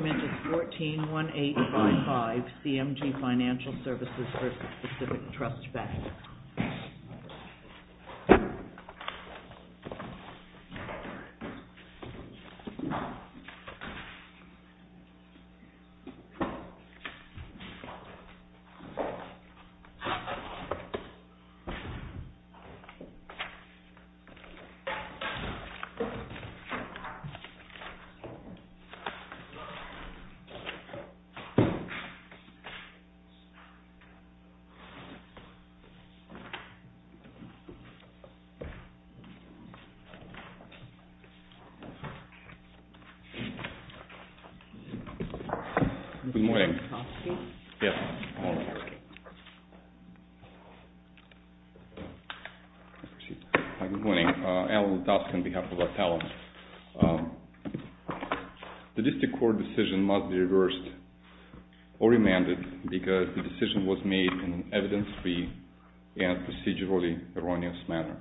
141855 CMG Financial Services v. Pacific Trust Bank. Good morning. Good morning. Good morning. I'm Alan Lutovsky on behalf of ATALA. The district court decision must be reversed or amended because the decision was made in an evidence-free and procedurally erroneous manner.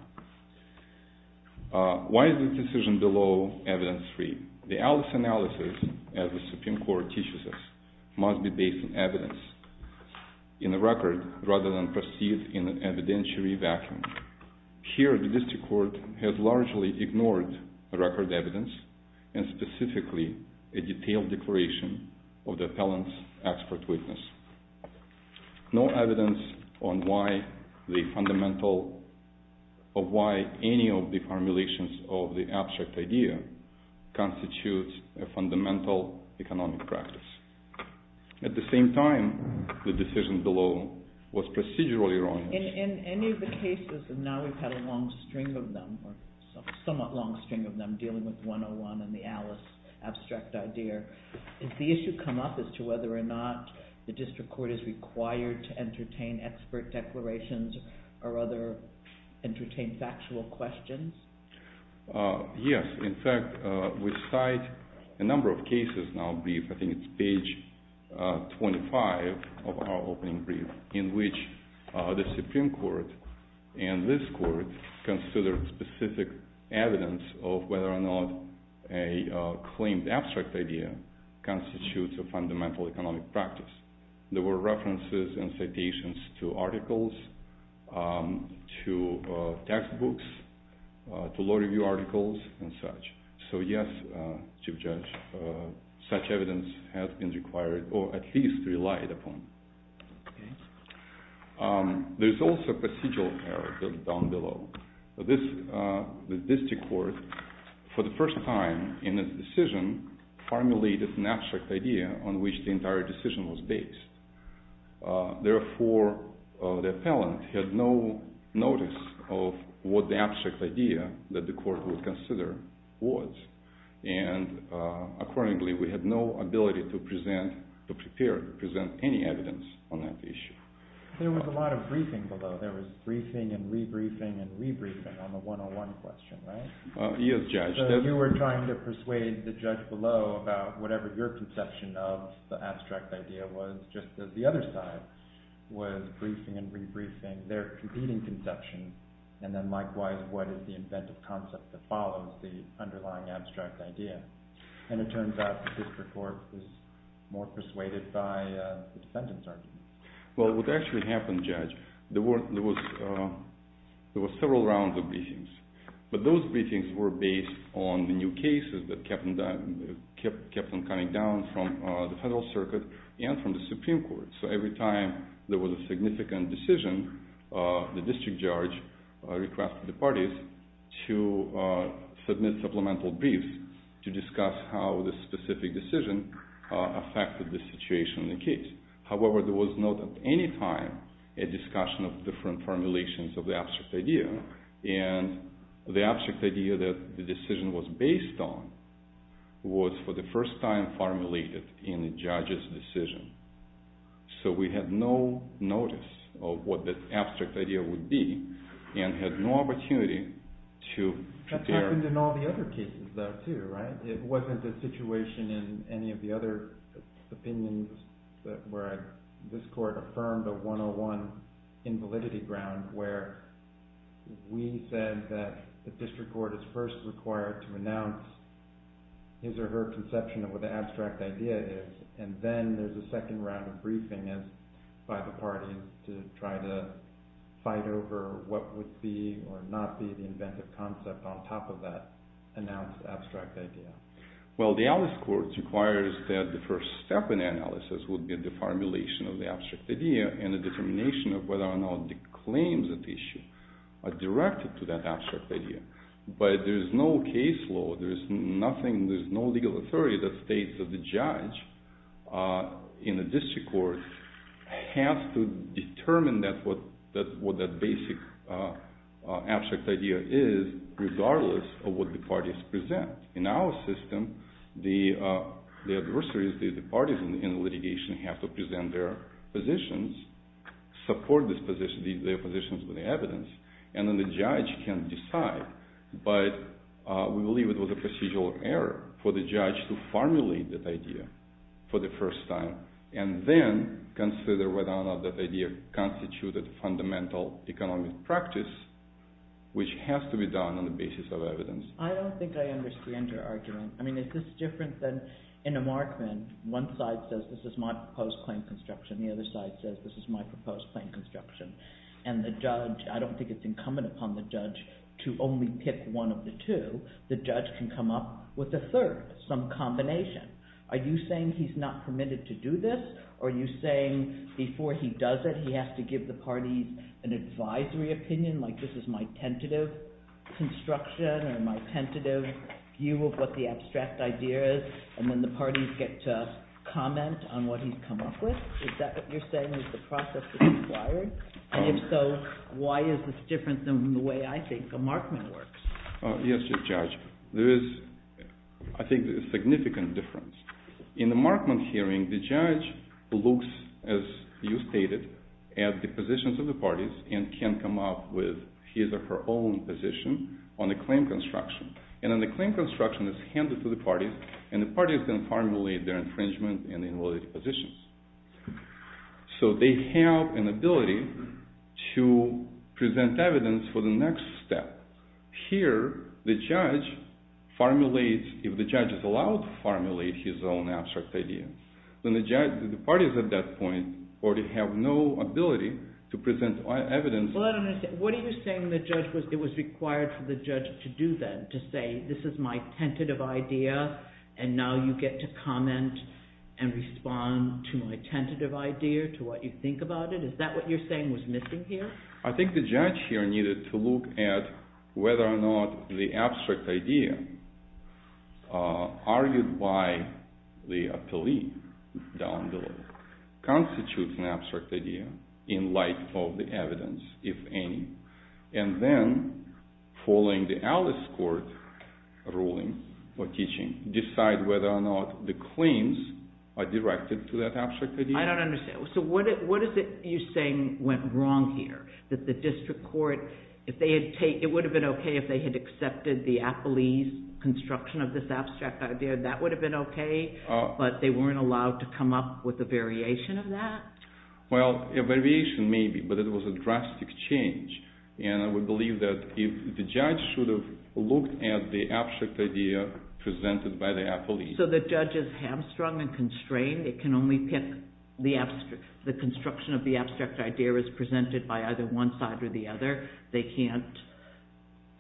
Why is the decision below evidence-free? The Alice analysis, as the Supreme Court teaches us, must be based on evidence in the record rather than perceived in an evidentiary vacuum. Here, the district court has largely ignored the record evidence, and specifically a detailed declaration of the appellant's expert witness. No evidence on why any of the formulations of the abstract idea constitutes a fundamental economic practice. At the same time, the decision below was procedurally erroneous. The Alice analysis, as the Supreme Court teaches us, must be based on evidence in the record rather than perceived in an evidentiary vacuum. Why is the decision below evidence-free? The Alice analysis, as the Supreme Court teaches us, must be based on evidence in the record rather than perceived in an evidentiary vacuum. The Alice analysis, as the Supreme Court teaches us, must be based on evidence in the record rather than perceived in an evidentiary vacuum. There were several rounds of briefings, but those briefings were based on the new cases that kept on coming down from the Federal Circuit and from the Supreme Court. So every time there was a significant decision, the district judge requested the parties to submit supplemental briefs to discuss how the specific decision affected the situation in the case. However, there was not at any time a discussion of different formulations of the abstract idea. And the abstract idea that the decision was based on was for the first time formulated in the judge's decision. So we had no notice of what the abstract idea would be and had no opportunity to prepare. It wasn't in all the other cases though too, right? It wasn't a situation in any of the other opinions where this court affirmed a 101 invalidity ground where we said that the district court is first required to announce his or her conception of what the abstract idea is. And then there's a second round of briefing by the parties to try to fight over what would be or not be the inventive concept on top of that announced abstract idea. Well, the Alice Court requires that the first step in the analysis would be the formulation of the abstract idea and the determination of whether or not the claims at issue are directed to that abstract idea. But there's no case law, there's nothing, there's no legal authority that states that the judge in the district court has to determine what that basic abstract idea is regardless of what the parties present. In our system, the adversaries, the parties in the litigation have to present their positions, support their positions with evidence, and then the judge can decide. But we believe it was a procedural error for the judge to formulate that idea for the first time and then consider whether or not that idea constituted fundamental economic practice which has to be done on the basis of evidence. I don't think I understand your argument. I mean, is this different than in a markman? One side says this is my proposed claim construction, the other side says this is my proposed claim construction. And the judge, I don't think it's incumbent upon the judge to only pick one of the two. The judge can come up with a third, some combination. Are you saying he's not permitted to do this, or are you saying before he does it he has to give the parties an advisory opinion, like this is my tentative construction or my tentative view of what the abstract idea is, and then the parties get to comment on what he's come up with? Is that what you're saying is the process is required? And if so, why is this different than the way I think a markman works? Yes, Judge. There is, I think, a significant difference. In the markman hearing, the judge looks, as you stated, at the positions of the parties and can come up with his or her own position on the claim construction. And then the claim construction is handed to the parties, and the parties then formulate their infringement and invalidity positions. So they have an ability to present evidence for the next step. Here, if the judge is allowed to formulate his own abstract idea, then the parties at that point already have no ability to present evidence. Well, I don't understand. What are you saying it was required for the judge to do then, to say this is my tentative idea, and now you get to comment and respond to my tentative idea, to what you think about it? Is that what you're saying was missing here? I think the judge here needed to look at whether or not the abstract idea argued by the appellee down below constitutes an abstract idea in light of the evidence, if any. And then, following the Alice Court ruling or teaching, decide whether or not the claims are directed to that abstract idea. I don't understand. So what is it you're saying went wrong here? That the district court, it would have been okay if they had accepted the appellee's construction of this abstract idea. That would have been okay, but they weren't allowed to come up with a variation of that? Well, a variation maybe, but it was a drastic change. And I would believe that the judge should have looked at the abstract idea presented by the appellee. So the judge is hamstrung and constrained. It can only pick, the construction of the abstract idea is presented by either one side or the other. They can't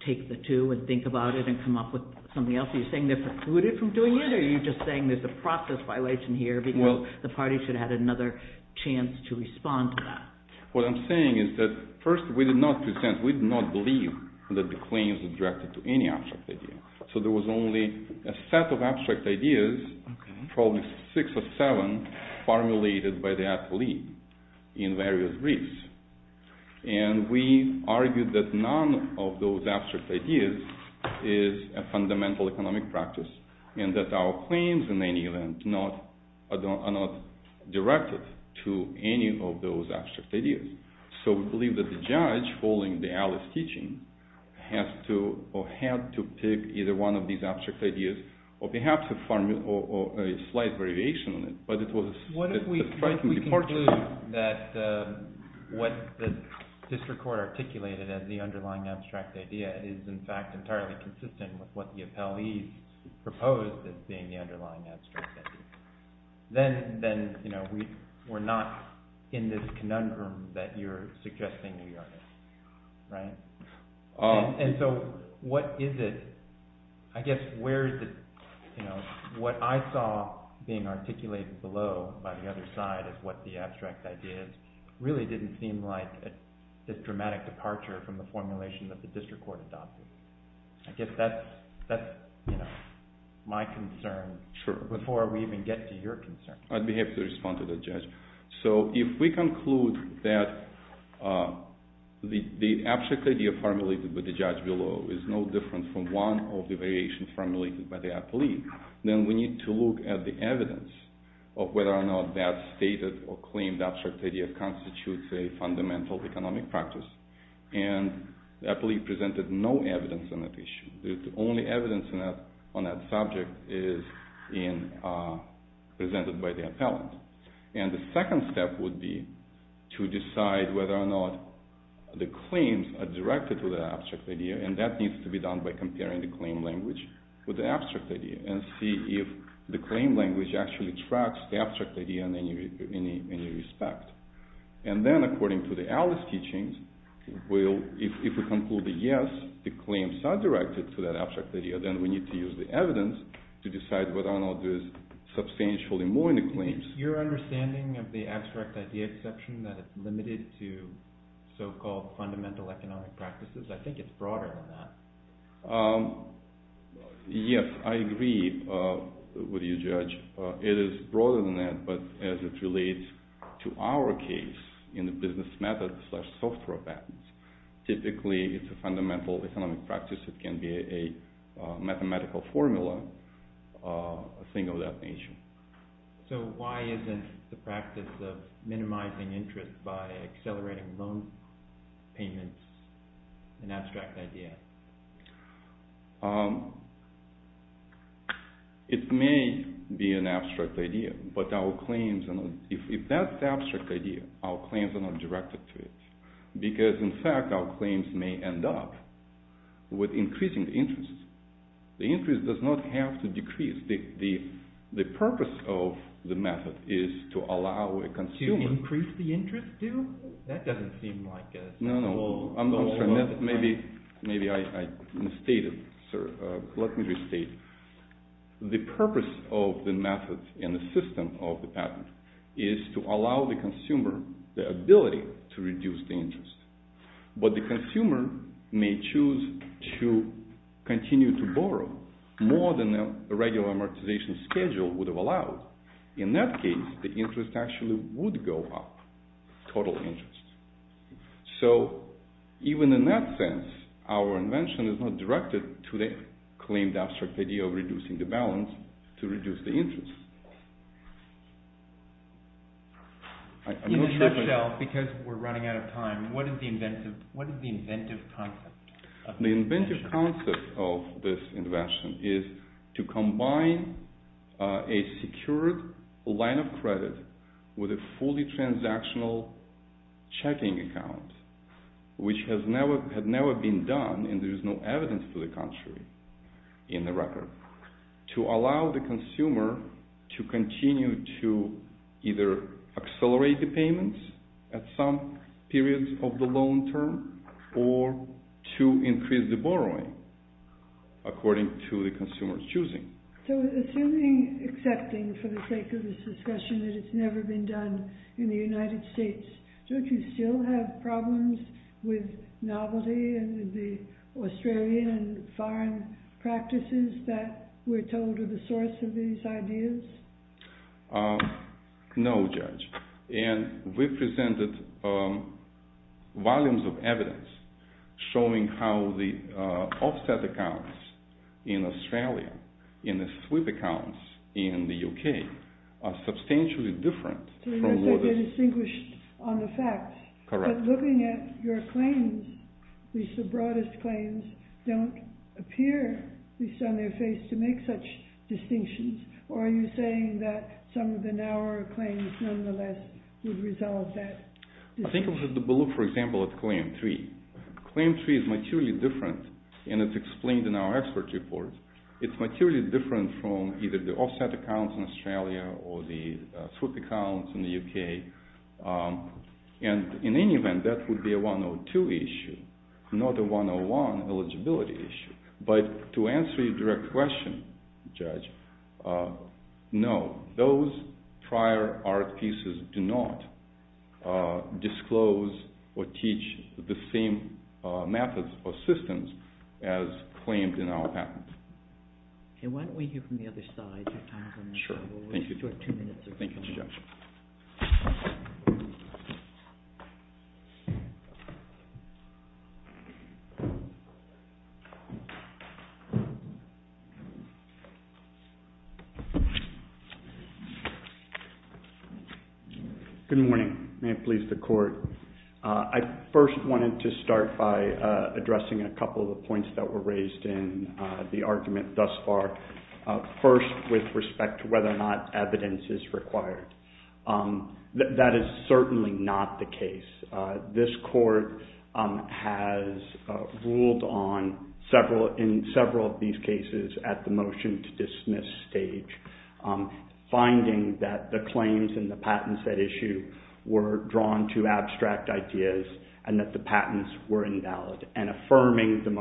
take the two and think about it and come up with something else. Are you saying they're precluded from doing it, or are you just saying there's a process violation here because the party should have had another chance to respond to that? What I'm saying is that, first, we did not present, we did not believe that the claims were directed to any abstract idea. So there was only a set of abstract ideas, probably six or seven, formulated by the appellee in various briefs. And we argued that none of those abstract ideas is a fundamental economic practice, and that our claims in any event are not directed to any of those abstract ideas. So we believe that the judge, following the Alice teaching, had to pick either one of these abstract ideas, or perhaps a slight variation on it. But it was a striking departure. What if we conclude that what the district court articulated as the underlying abstract idea is in fact entirely consistent with what the appellees proposed as being the underlying abstract idea? Then we're not in this conundrum that you're suggesting we are in. And so what is it? I guess what I saw being articulated below by the other side as what the abstract idea is really didn't seem like this dramatic departure from the formulation that the district court adopted. I guess that's my concern before we even get to your concern. I'd be happy to respond to that, Judge. So if we conclude that the abstract idea formulated by the judge below is no different from one of the variations formulated by the appellee, then we need to look at the evidence of whether or not that stated or claimed abstract idea constitutes a fundamental economic practice. And the appellee presented no evidence on that issue. The only evidence on that subject is presented by the appellant. And the second step would be to decide whether or not the claims are directed to the abstract idea, and that needs to be done by comparing the claim language with the abstract idea, and see if the claim language actually tracks the abstract idea in any respect. And then, according to the Alice teachings, if we conclude that, yes, the claims are directed to that abstract idea, then we need to use the evidence to decide whether or not there is substantially more in the claims. Your understanding of the abstract idea exception, that it's limited to so-called fundamental economic practices, I think it's broader than that. Yes, I agree with you, Judge. It is broader than that, but as it relates to our case in the business method slash software patents, typically it's a fundamental economic practice that can be a mathematical formula, a thing of that nature. So why isn't the practice of minimizing interest by accelerating loan payments an abstract idea? It may be an abstract idea, but if that's the abstract idea, our claims are not directed to it, because in fact our claims may end up with increasing interest. The interest does not have to decrease. The purpose of the method is to allow a consumer… To increase the interest due? That doesn't seem like a goal. Maybe I misstated, sir. Let me restate. The purpose of the method and the system of the patent is to allow the consumer the ability to reduce the interest. But the consumer may choose to continue to borrow more than a regular amortization schedule would have allowed. In that case, the interest actually would go up, total interest. So even in that sense, our invention is not directed to the claimed abstract idea of reducing the balance to reduce the interest. In a nutshell, because we're running out of time, what is the inventive concept? The inventive concept of this invention is to combine a secured line of credit with a fully transactional checking account, which had never been done and there is no evidence for the contrary in the record, to allow the consumer to continue to either accelerate the payments at some periods of the long term or to increase the borrowing according to the consumer's choosing. So assuming, excepting for the sake of this discussion, that it's never been done in the United States, don't you still have problems with novelty and the Australian and foreign practices that we're told are the source of these ideas? No, Judge. And we've presented volumes of evidence showing how the offset accounts in Australia and the sweep accounts in the UK are substantially different. So you're saying they're distinguished on the facts. Correct. But looking at your claims, at least the broadest claims, don't appear, at least on their face, to make such distinctions. Or are you saying that some of the narrower claims nonetheless would result that? I think we'll have to look, for example, at Claim 3. Claim 3 is materially different and it's explained in our expert report. It's materially different from either the offset accounts in Australia or the sweep accounts in the UK. And in any event, that would be a 102 issue, not a 101 eligibility issue. But to answer your direct question, Judge, no, those prior art pieces do not disclose or teach the same methods or systems as claimed in our patent. Why don't we hear from the other side? Sure. Thank you. Thank you, Judge. Good morning. May it please the Court. I first wanted to start by addressing a couple of the points that were raised in the argument thus far. First, with respect to whether or not evidence is required. That is certainly not the case. This Court has ruled in several of these cases at the motion-to-dismiss stage, finding that the claims in the patent set issue were drawn to abstract ideas and that the patents were invalid, and affirming the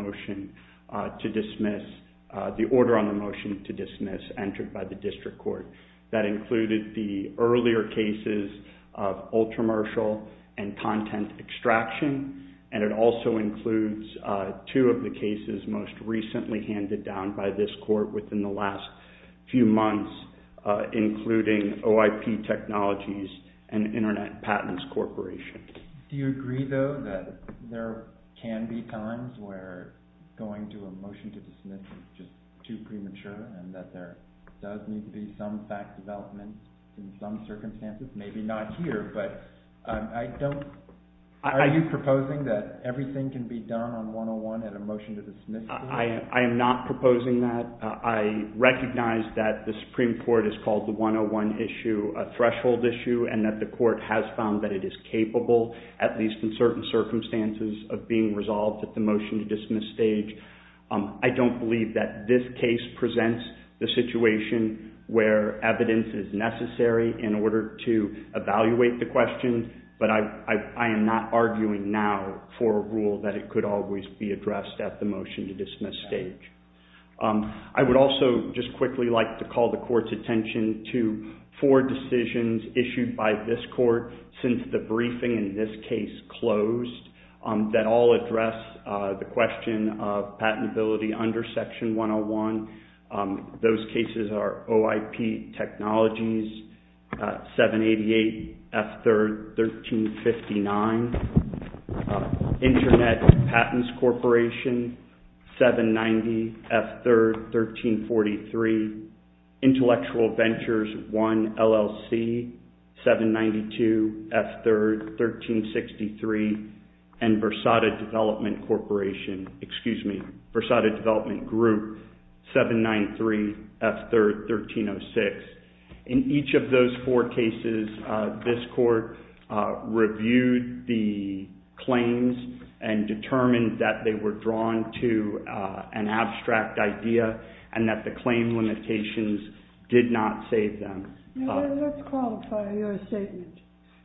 order on the motion to dismiss entered by the District Court. That included the earlier cases of ultra-martial and content extraction, and it also includes two of the cases most recently handed down by this Court within the last few months, including OIP Technologies and Internet Patents Corporation. Do you agree, though, that there can be times where going to a motion to dismiss is just too premature and that there does need to be some fact development in some circumstances? Maybe not here, but are you proposing that everything can be done on 101 at a motion-to-dismiss stage? I am not proposing that. I recognize that the Supreme Court has called the 101 issue a threshold issue and that the Court has found that it is capable, at least in certain circumstances, of being resolved at the motion-to-dismiss stage. I don't believe that this case presents the situation where evidence is necessary in order to evaluate the question, but I am not arguing now for a rule that it could always be addressed at the motion-to-dismiss stage. I would also just quickly like to call the Court's attention to four decisions issued by this Court since the briefing in this case closed that all address the question of patentability under Section 101. Those cases are OIP Technologies 788 F3rd 1359, Internet Patents Corporation 790 F3rd 1343, Intellectual Ventures 1 LLC 792 F3rd 1363, and Versada Development Group 793 F3rd 1306. In each of those four cases, this Court reviewed the claims and determined that they were drawn to an abstract idea and that the claim limitations did not save them. Let's qualify your statement.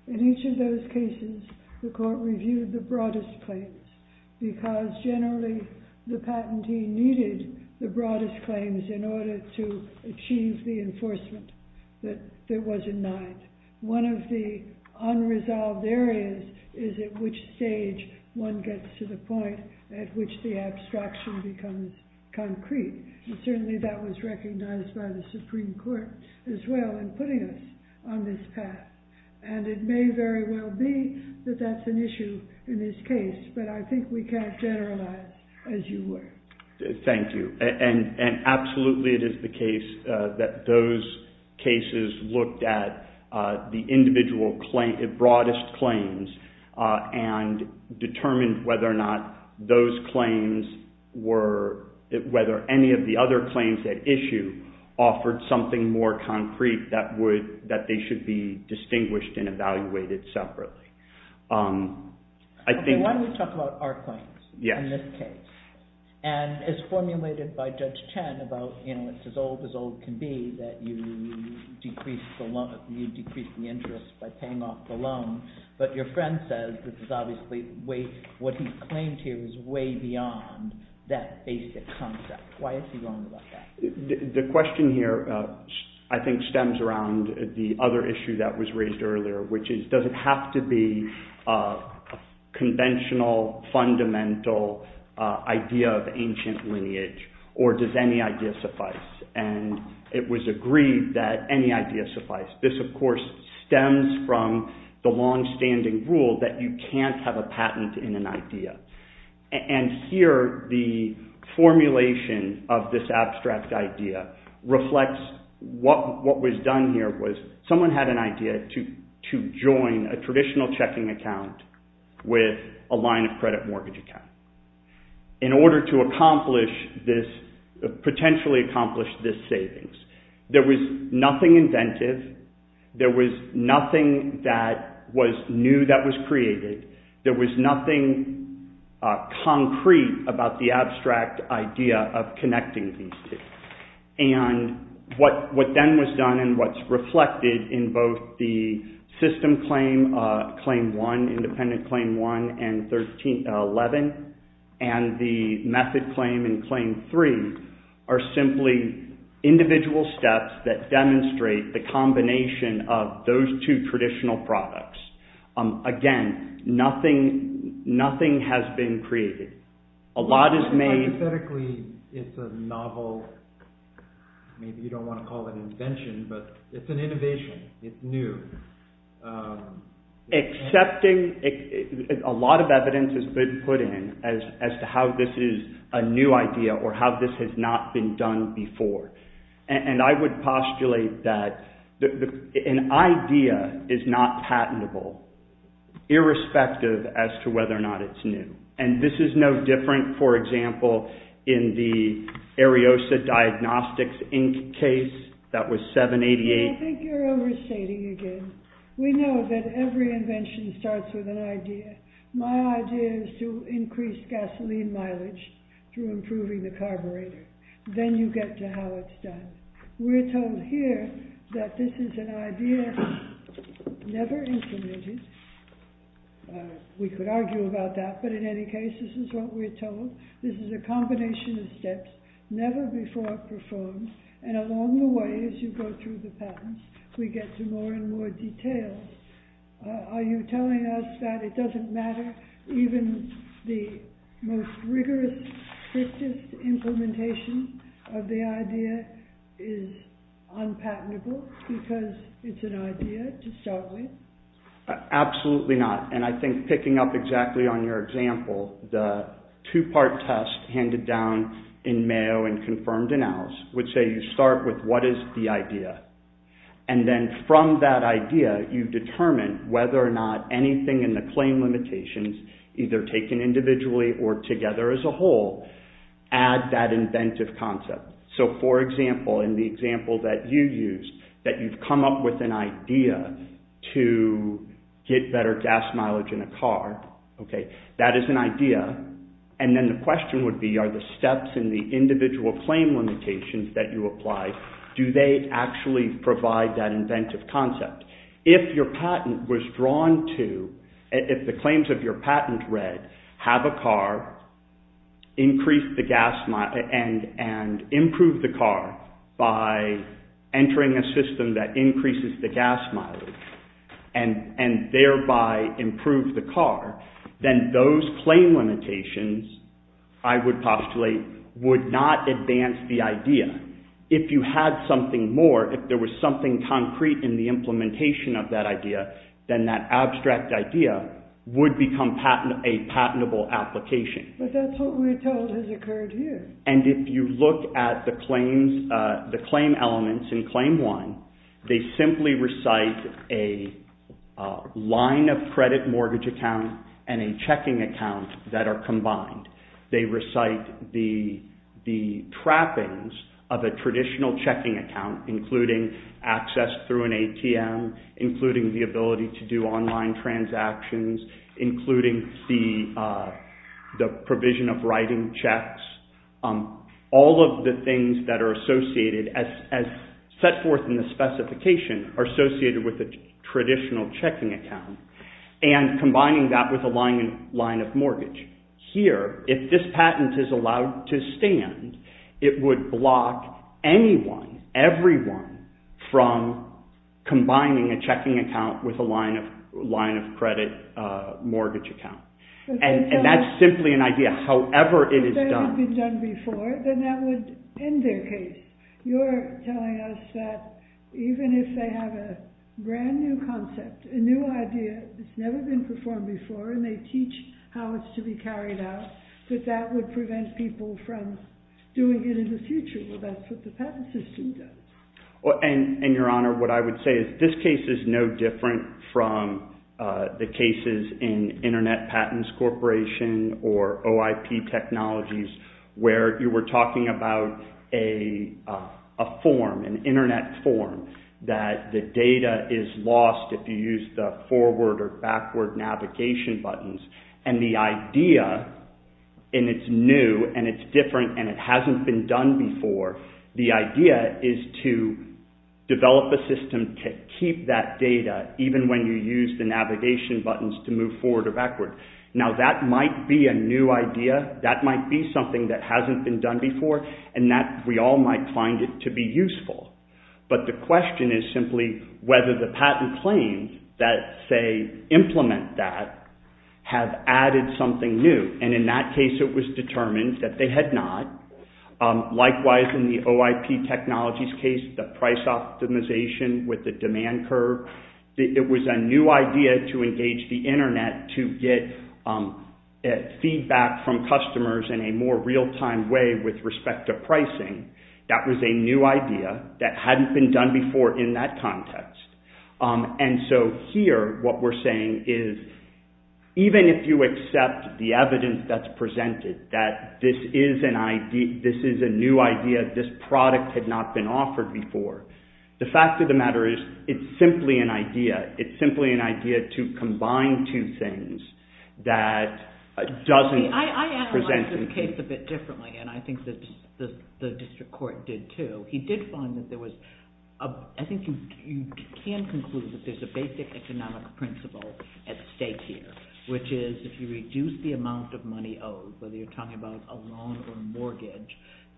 In each of those cases, the Court reviewed the broadest claims because generally the patentee needed the broadest claims in order to achieve the enforcement that was denied. One of the unresolved areas is at which stage one gets to the point at which the abstraction becomes concrete, and certainly that was recognized by the Supreme Court as well in putting us on this path. And it may very well be that that's an issue in this case, but I think we can't generalize as you would. Thank you. And absolutely it is the case that those cases looked at the individual claim, the broadest claims, and determined whether or not those claims were, whether any of the other claims at issue offered something more concrete that they should be distinguished and evaluated separately. Okay, why don't we talk about our claims in this case? And as formulated by Judge Chen about, you know, it's as old as old can be that you decrease the interest by paying off the loan, but your friend says this is obviously way, what he claimed here is way beyond that basic concept. Why is he wrong about that? The question here I think stems around the other issue that was raised earlier, which is does it have to be conventional, fundamental idea of ancient lineage, or does any idea suffice? And it was agreed that any idea suffice. This, of course, stems from the longstanding rule that you can't have a patent in an idea. And here the formulation of this abstract idea reflects what was done here was someone had an idea to join a traditional checking account with a line of credit mortgage account. In order to accomplish this, potentially accomplish this savings, there was nothing inventive, there was nothing that was new that was created, there was nothing concrete about the abstract idea of connecting these two. And what then was done and what's reflected in both the system claim, claim one, independent claim one, and 1311, and the method claim and claim three are simply individual steps that demonstrate the combination of those two traditional products. Again, nothing has been created. A lot is made... Hypothetically, it's a novel, maybe you don't want to call it an invention, but it's an innovation, it's new. Accepting, a lot of evidence has been put in as to how this is a new idea or how this has not been done before. And I would postulate that an idea is not patentable irrespective as to whether or not it's new. And this is no different, for example, in the Ariosa Diagnostics Inc. case that was 788... I think you're overstating again. We know that every invention starts with an idea. My idea is to increase gasoline mileage through improving the carburetor. Then you get to how it's done. We're told here that this is an idea never implemented. We could argue about that, but in any case, this is what we're told. This is a combination of steps never before performed, and along the way, as you go through the patents, we get to more and more details. Are you telling us that it doesn't matter even the most rigorous, strictest implementation of the idea is unpatentable because it's an idea to start with? Absolutely not, and I think picking up exactly on your example, the two-part test handed down in Mayo and confirmed in ours would say you start with what is the idea. And then from that idea, you determine whether or not anything in the claim limitation either taken individually or together as a whole, add that inventive concept. So, for example, in the example that you used, that you've come up with an idea to get better gas mileage in a car, that is an idea, and then the question would be, are the steps in the individual claim limitations that you applied, do they actually provide that inventive concept? If your patent was drawn to, if the claims of your patent read, have a car, increase the gas mileage, and improve the car by entering a system that increases the gas mileage, and thereby improve the car, then those claim limitations, I would postulate, would not advance the idea. And if you had something more, if there was something concrete in the implementation of that idea, then that abstract idea would become a patentable application. But that's what we're told has occurred here. And if you look at the claim elements in Claim 1, they simply recite a line of credit mortgage account and a checking account that are combined. They recite the trappings of a traditional checking account, including access through an ATM, including the ability to do online transactions, including the provision of writing checks. All of the things that are associated, as set forth in the specification, are associated with a traditional checking account, and combining that with a line of mortgage. Here, if this patent is allowed to stand, it would block anyone, everyone, from combining a checking account with a line of credit mortgage account. And that's simply an idea, however it is done. If that had been done before, then that would end their case. You're telling us that even if they have a brand new concept, a new idea that's never been performed before, and they teach how it's to be carried out, that that would prevent people from doing it in the future. Well, that's what the patent system does. And, Your Honor, what I would say is this case is no different from the cases in Internet Patents Corporation or OIP Technologies, where you were talking about a form, an internet form, that the data is lost if you use the forward or backward navigation buttons, and the idea, and it's new, and it's different, and it hasn't been done before, the idea is to develop a system to keep that data even when you use the navigation buttons to move forward or backward. Now, that might be a new idea. That might be something that hasn't been done before, and we all might find it to be useful. But the question is simply whether the patent claims that say implement that have added something new, and in that case it was determined that they had not. Likewise, in the OIP Technologies case, the price optimization with the demand curve, it was a new idea to engage the internet to get feedback from customers in a more real-time way with respect to pricing. That was a new idea that hadn't been done before in that context. And so here what we're saying is even if you accept the evidence that's presented, that this is a new idea, this product had not been offered before, the fact of the matter is it's simply an idea. It's simply an idea to combine two things that doesn't present... I analyzed this case a bit differently, and I think the district court did too. He did find that there was... I think you can conclude that there's a basic economic principle at stake here, which is if you reduce the amount of money owed, whether you're talking about a loan or a mortgage,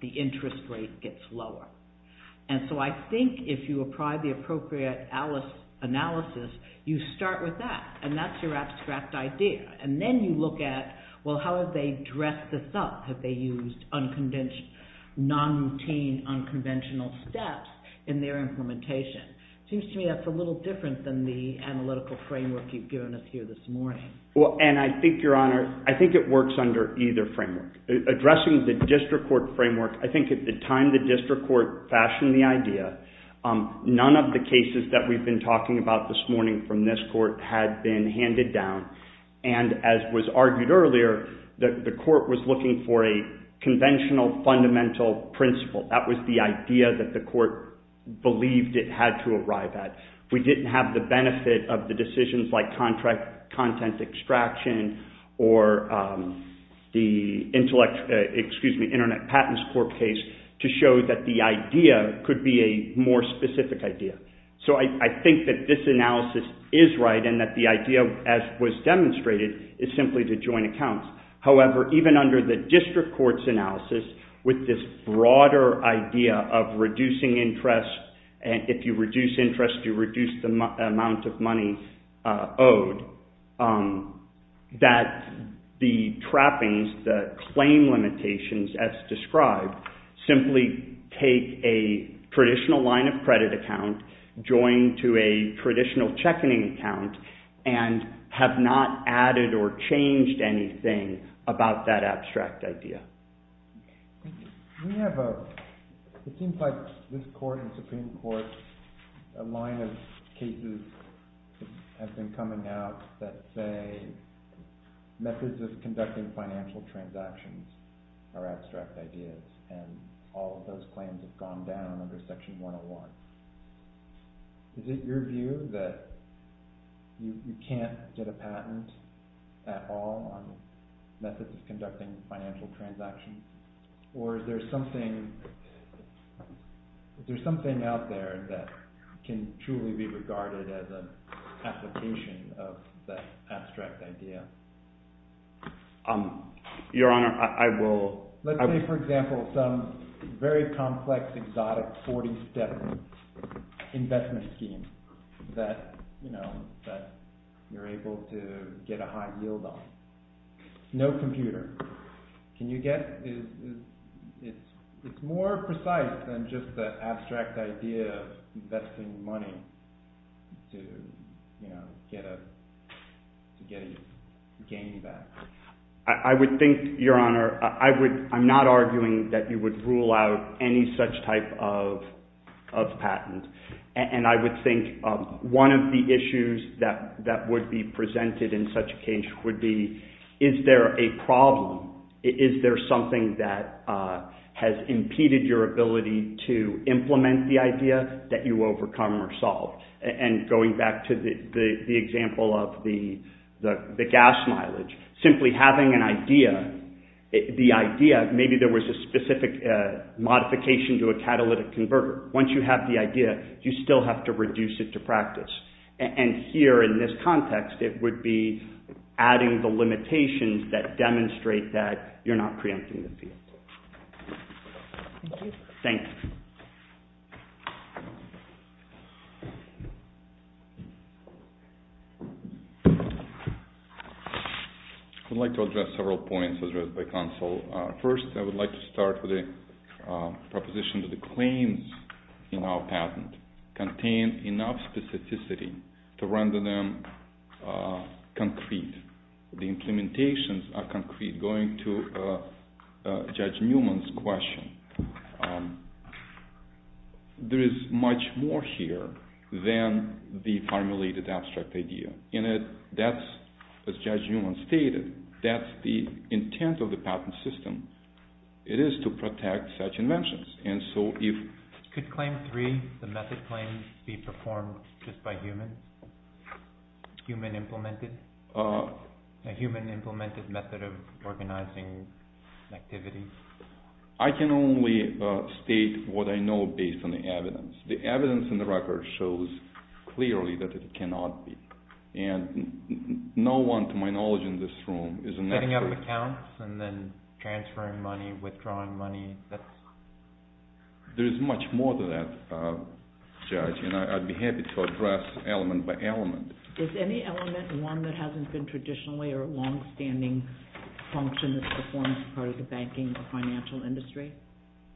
the interest rate gets lower. And so I think if you apply the appropriate analysis, you start with that, and that's your abstract idea. And then you look at, well, how have they dressed this up? Have they used non-routine, unconventional steps in their implementation? Seems to me that's a little different than the analytical framework you've given us here this morning. And I think, Your Honor, I think it works under either framework. Addressing the district court framework, I think at the time the district court fashioned the idea, none of the cases that we've been talking about this morning from this court had been handed down, and as was argued earlier, the court was looking for a conventional fundamental principle. That was the idea that the court believed it had to arrive at. We didn't have the benefit of the decisions like content extraction or the Internet Patents Court case to show that the idea could be a more specific idea. So I think that this analysis is right and that the idea, as was demonstrated, is simply to join accounts. However, even under the district court's analysis, with this broader idea of reducing interest, and if you reduce interest, you reduce the amount of money owed, that the trappings, the claim limitations as described, simply take a traditional line of credit account, join to a traditional check-in account, and have not added or changed anything about that abstract idea. It seems like this court and Supreme Court, a line of cases have been coming out that say methods of conducting financial transactions are abstract ideas, and all of those claims have gone down under Section 101. Is it your view that you can't get a patent at all on methods of conducting financial transactions? Or is there something out there that can truly be regarded as an application of that abstract idea? Your Honor, I will... Let's say, for example, some very complex, exotic, 40-step investment scheme that you're able to get a high yield on. No computer. Can you get... It's more precise than just the abstract idea of investing money to get a gain back. I would think, Your Honor, I'm not arguing that you would rule out any such type of patent. And I would think one of the issues that would be presented in such a case would be, is there a problem? Is there something that has impeded your ability to implement the idea that you overcome or solved? And going back to the example of the gas mileage, simply having the idea, maybe there was a specific modification to a catalytic converter. Once you have the idea, you still have to reduce it to practice. And here, in this context, it would be adding the limitations that demonstrate that you're not preempting the field. Thank you. I would like to address several points as raised by counsel. First, I would like to start with a proposition that the claims in our patent contain enough specificity to render them concrete. The implementations are concrete. Going to Judge Newman's question, there is much more here than the formulated abstract idea. As Judge Newman stated, that's the intent of the patent system. It is to protect such inventions. Could Claim 3, the method claim, be performed just by humans? Human implemented? A human implemented method of organizing activity? I can only state what I know based on the evidence. The evidence in the record shows clearly that it cannot be. And no one, to my knowledge in this room, is an expert. Setting up accounts and then transferring money, withdrawing money? There is much more to that, Judge, and I'd be happy to address element by element. Is any element one that hasn't been traditionally or a long-standing function that's performed as part of the banking or financial industry?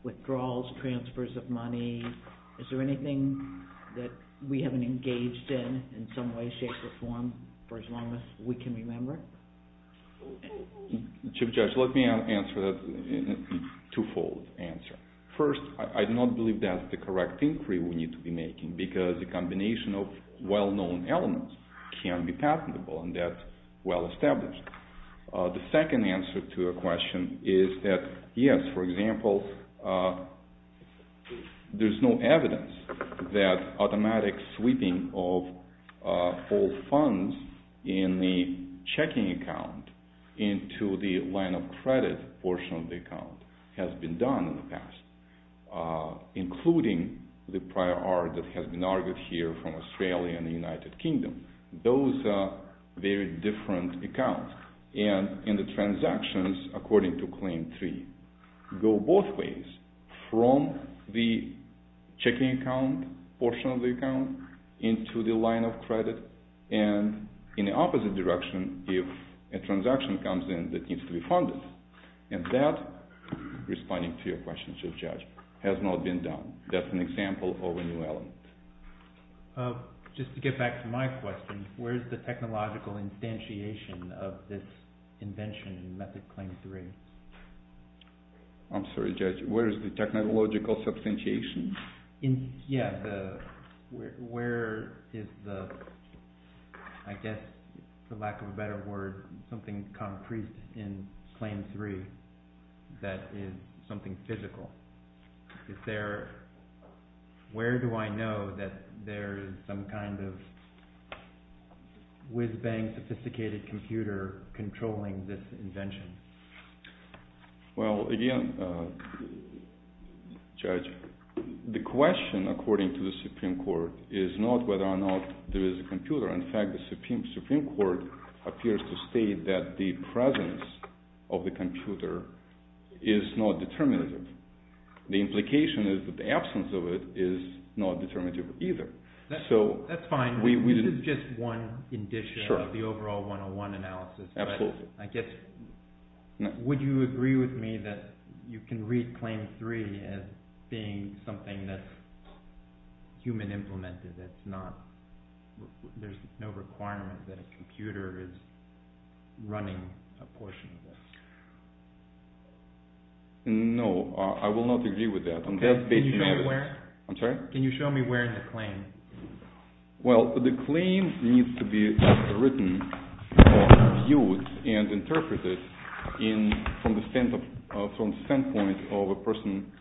Withdrawals, transfers of money? Is there anything that we haven't engaged in, in some way, shape, or form, for as long as we can remember? Chief Judge, let me answer that in a two-fold answer. First, I do not believe that's the correct inquiry we need to be making because a combination of well-known elements can be patentable and that's well established. The second answer to your question is that, yes, for example, there's no evidence that automatic sweeping of all funds in the checking account into the line of credit portion of the account has been done in the past, including the prior art that has been argued here from Australia and the United Kingdom. Those are very different accounts, and the transactions, according to Claim 3, go both ways from the checking account portion of the account into the line of credit and in the opposite direction if a transaction comes in that needs to be funded. And that, responding to your question, Chief Judge, has not been done. That's an example of a new element. Just to get back to my question, where's the technological instantiation of this invention in Method Claim 3? I'm sorry, Judge, where is the technological instantiation? Yeah, where is the, I guess, for lack of a better word, something concrete in Claim 3 that is something physical? Where do I know that there is some kind of sophisticated computer controlling this invention? Well, again, Judge, the question, according to the Supreme Court, is not whether or not there is a computer. In fact, the Supreme Court appears to state that the presence of the computer is not determinative. The implication is that the absence of it is not determinative either. That's fine. This is just one indicia of the overall 101 analysis. Absolutely. I guess, would you agree with me that you can read Claim 3 as being something that's human implemented, that there's no requirement that a computer is running a portion of it? No, I will not agree with that. Can you show me where? I'm sorry? Well, the claim needs to be written, viewed, and interpreted from the standpoint of a person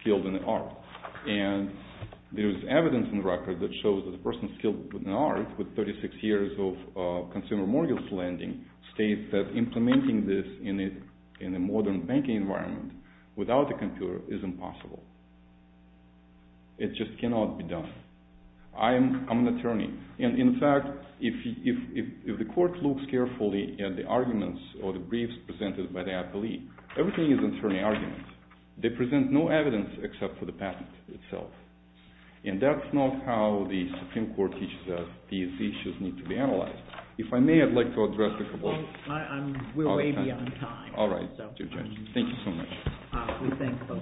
skilled in art. And there's evidence in the record that shows that a person skilled in art with 36 years of consumer mortgage lending states that implementing this in a modern banking environment without a computer is impossible. It just cannot be done. I'm an attorney. And in fact, if the court looks carefully at the arguments or the briefs presented by the appellee, everything is an attorney argument. They present no evidence except for the patent itself. And that's not how the Supreme Court teaches us these issues need to be analyzed. If I may, I'd like to address the complaint. We're way beyond time. All right. Thank you so much. We thank both of you.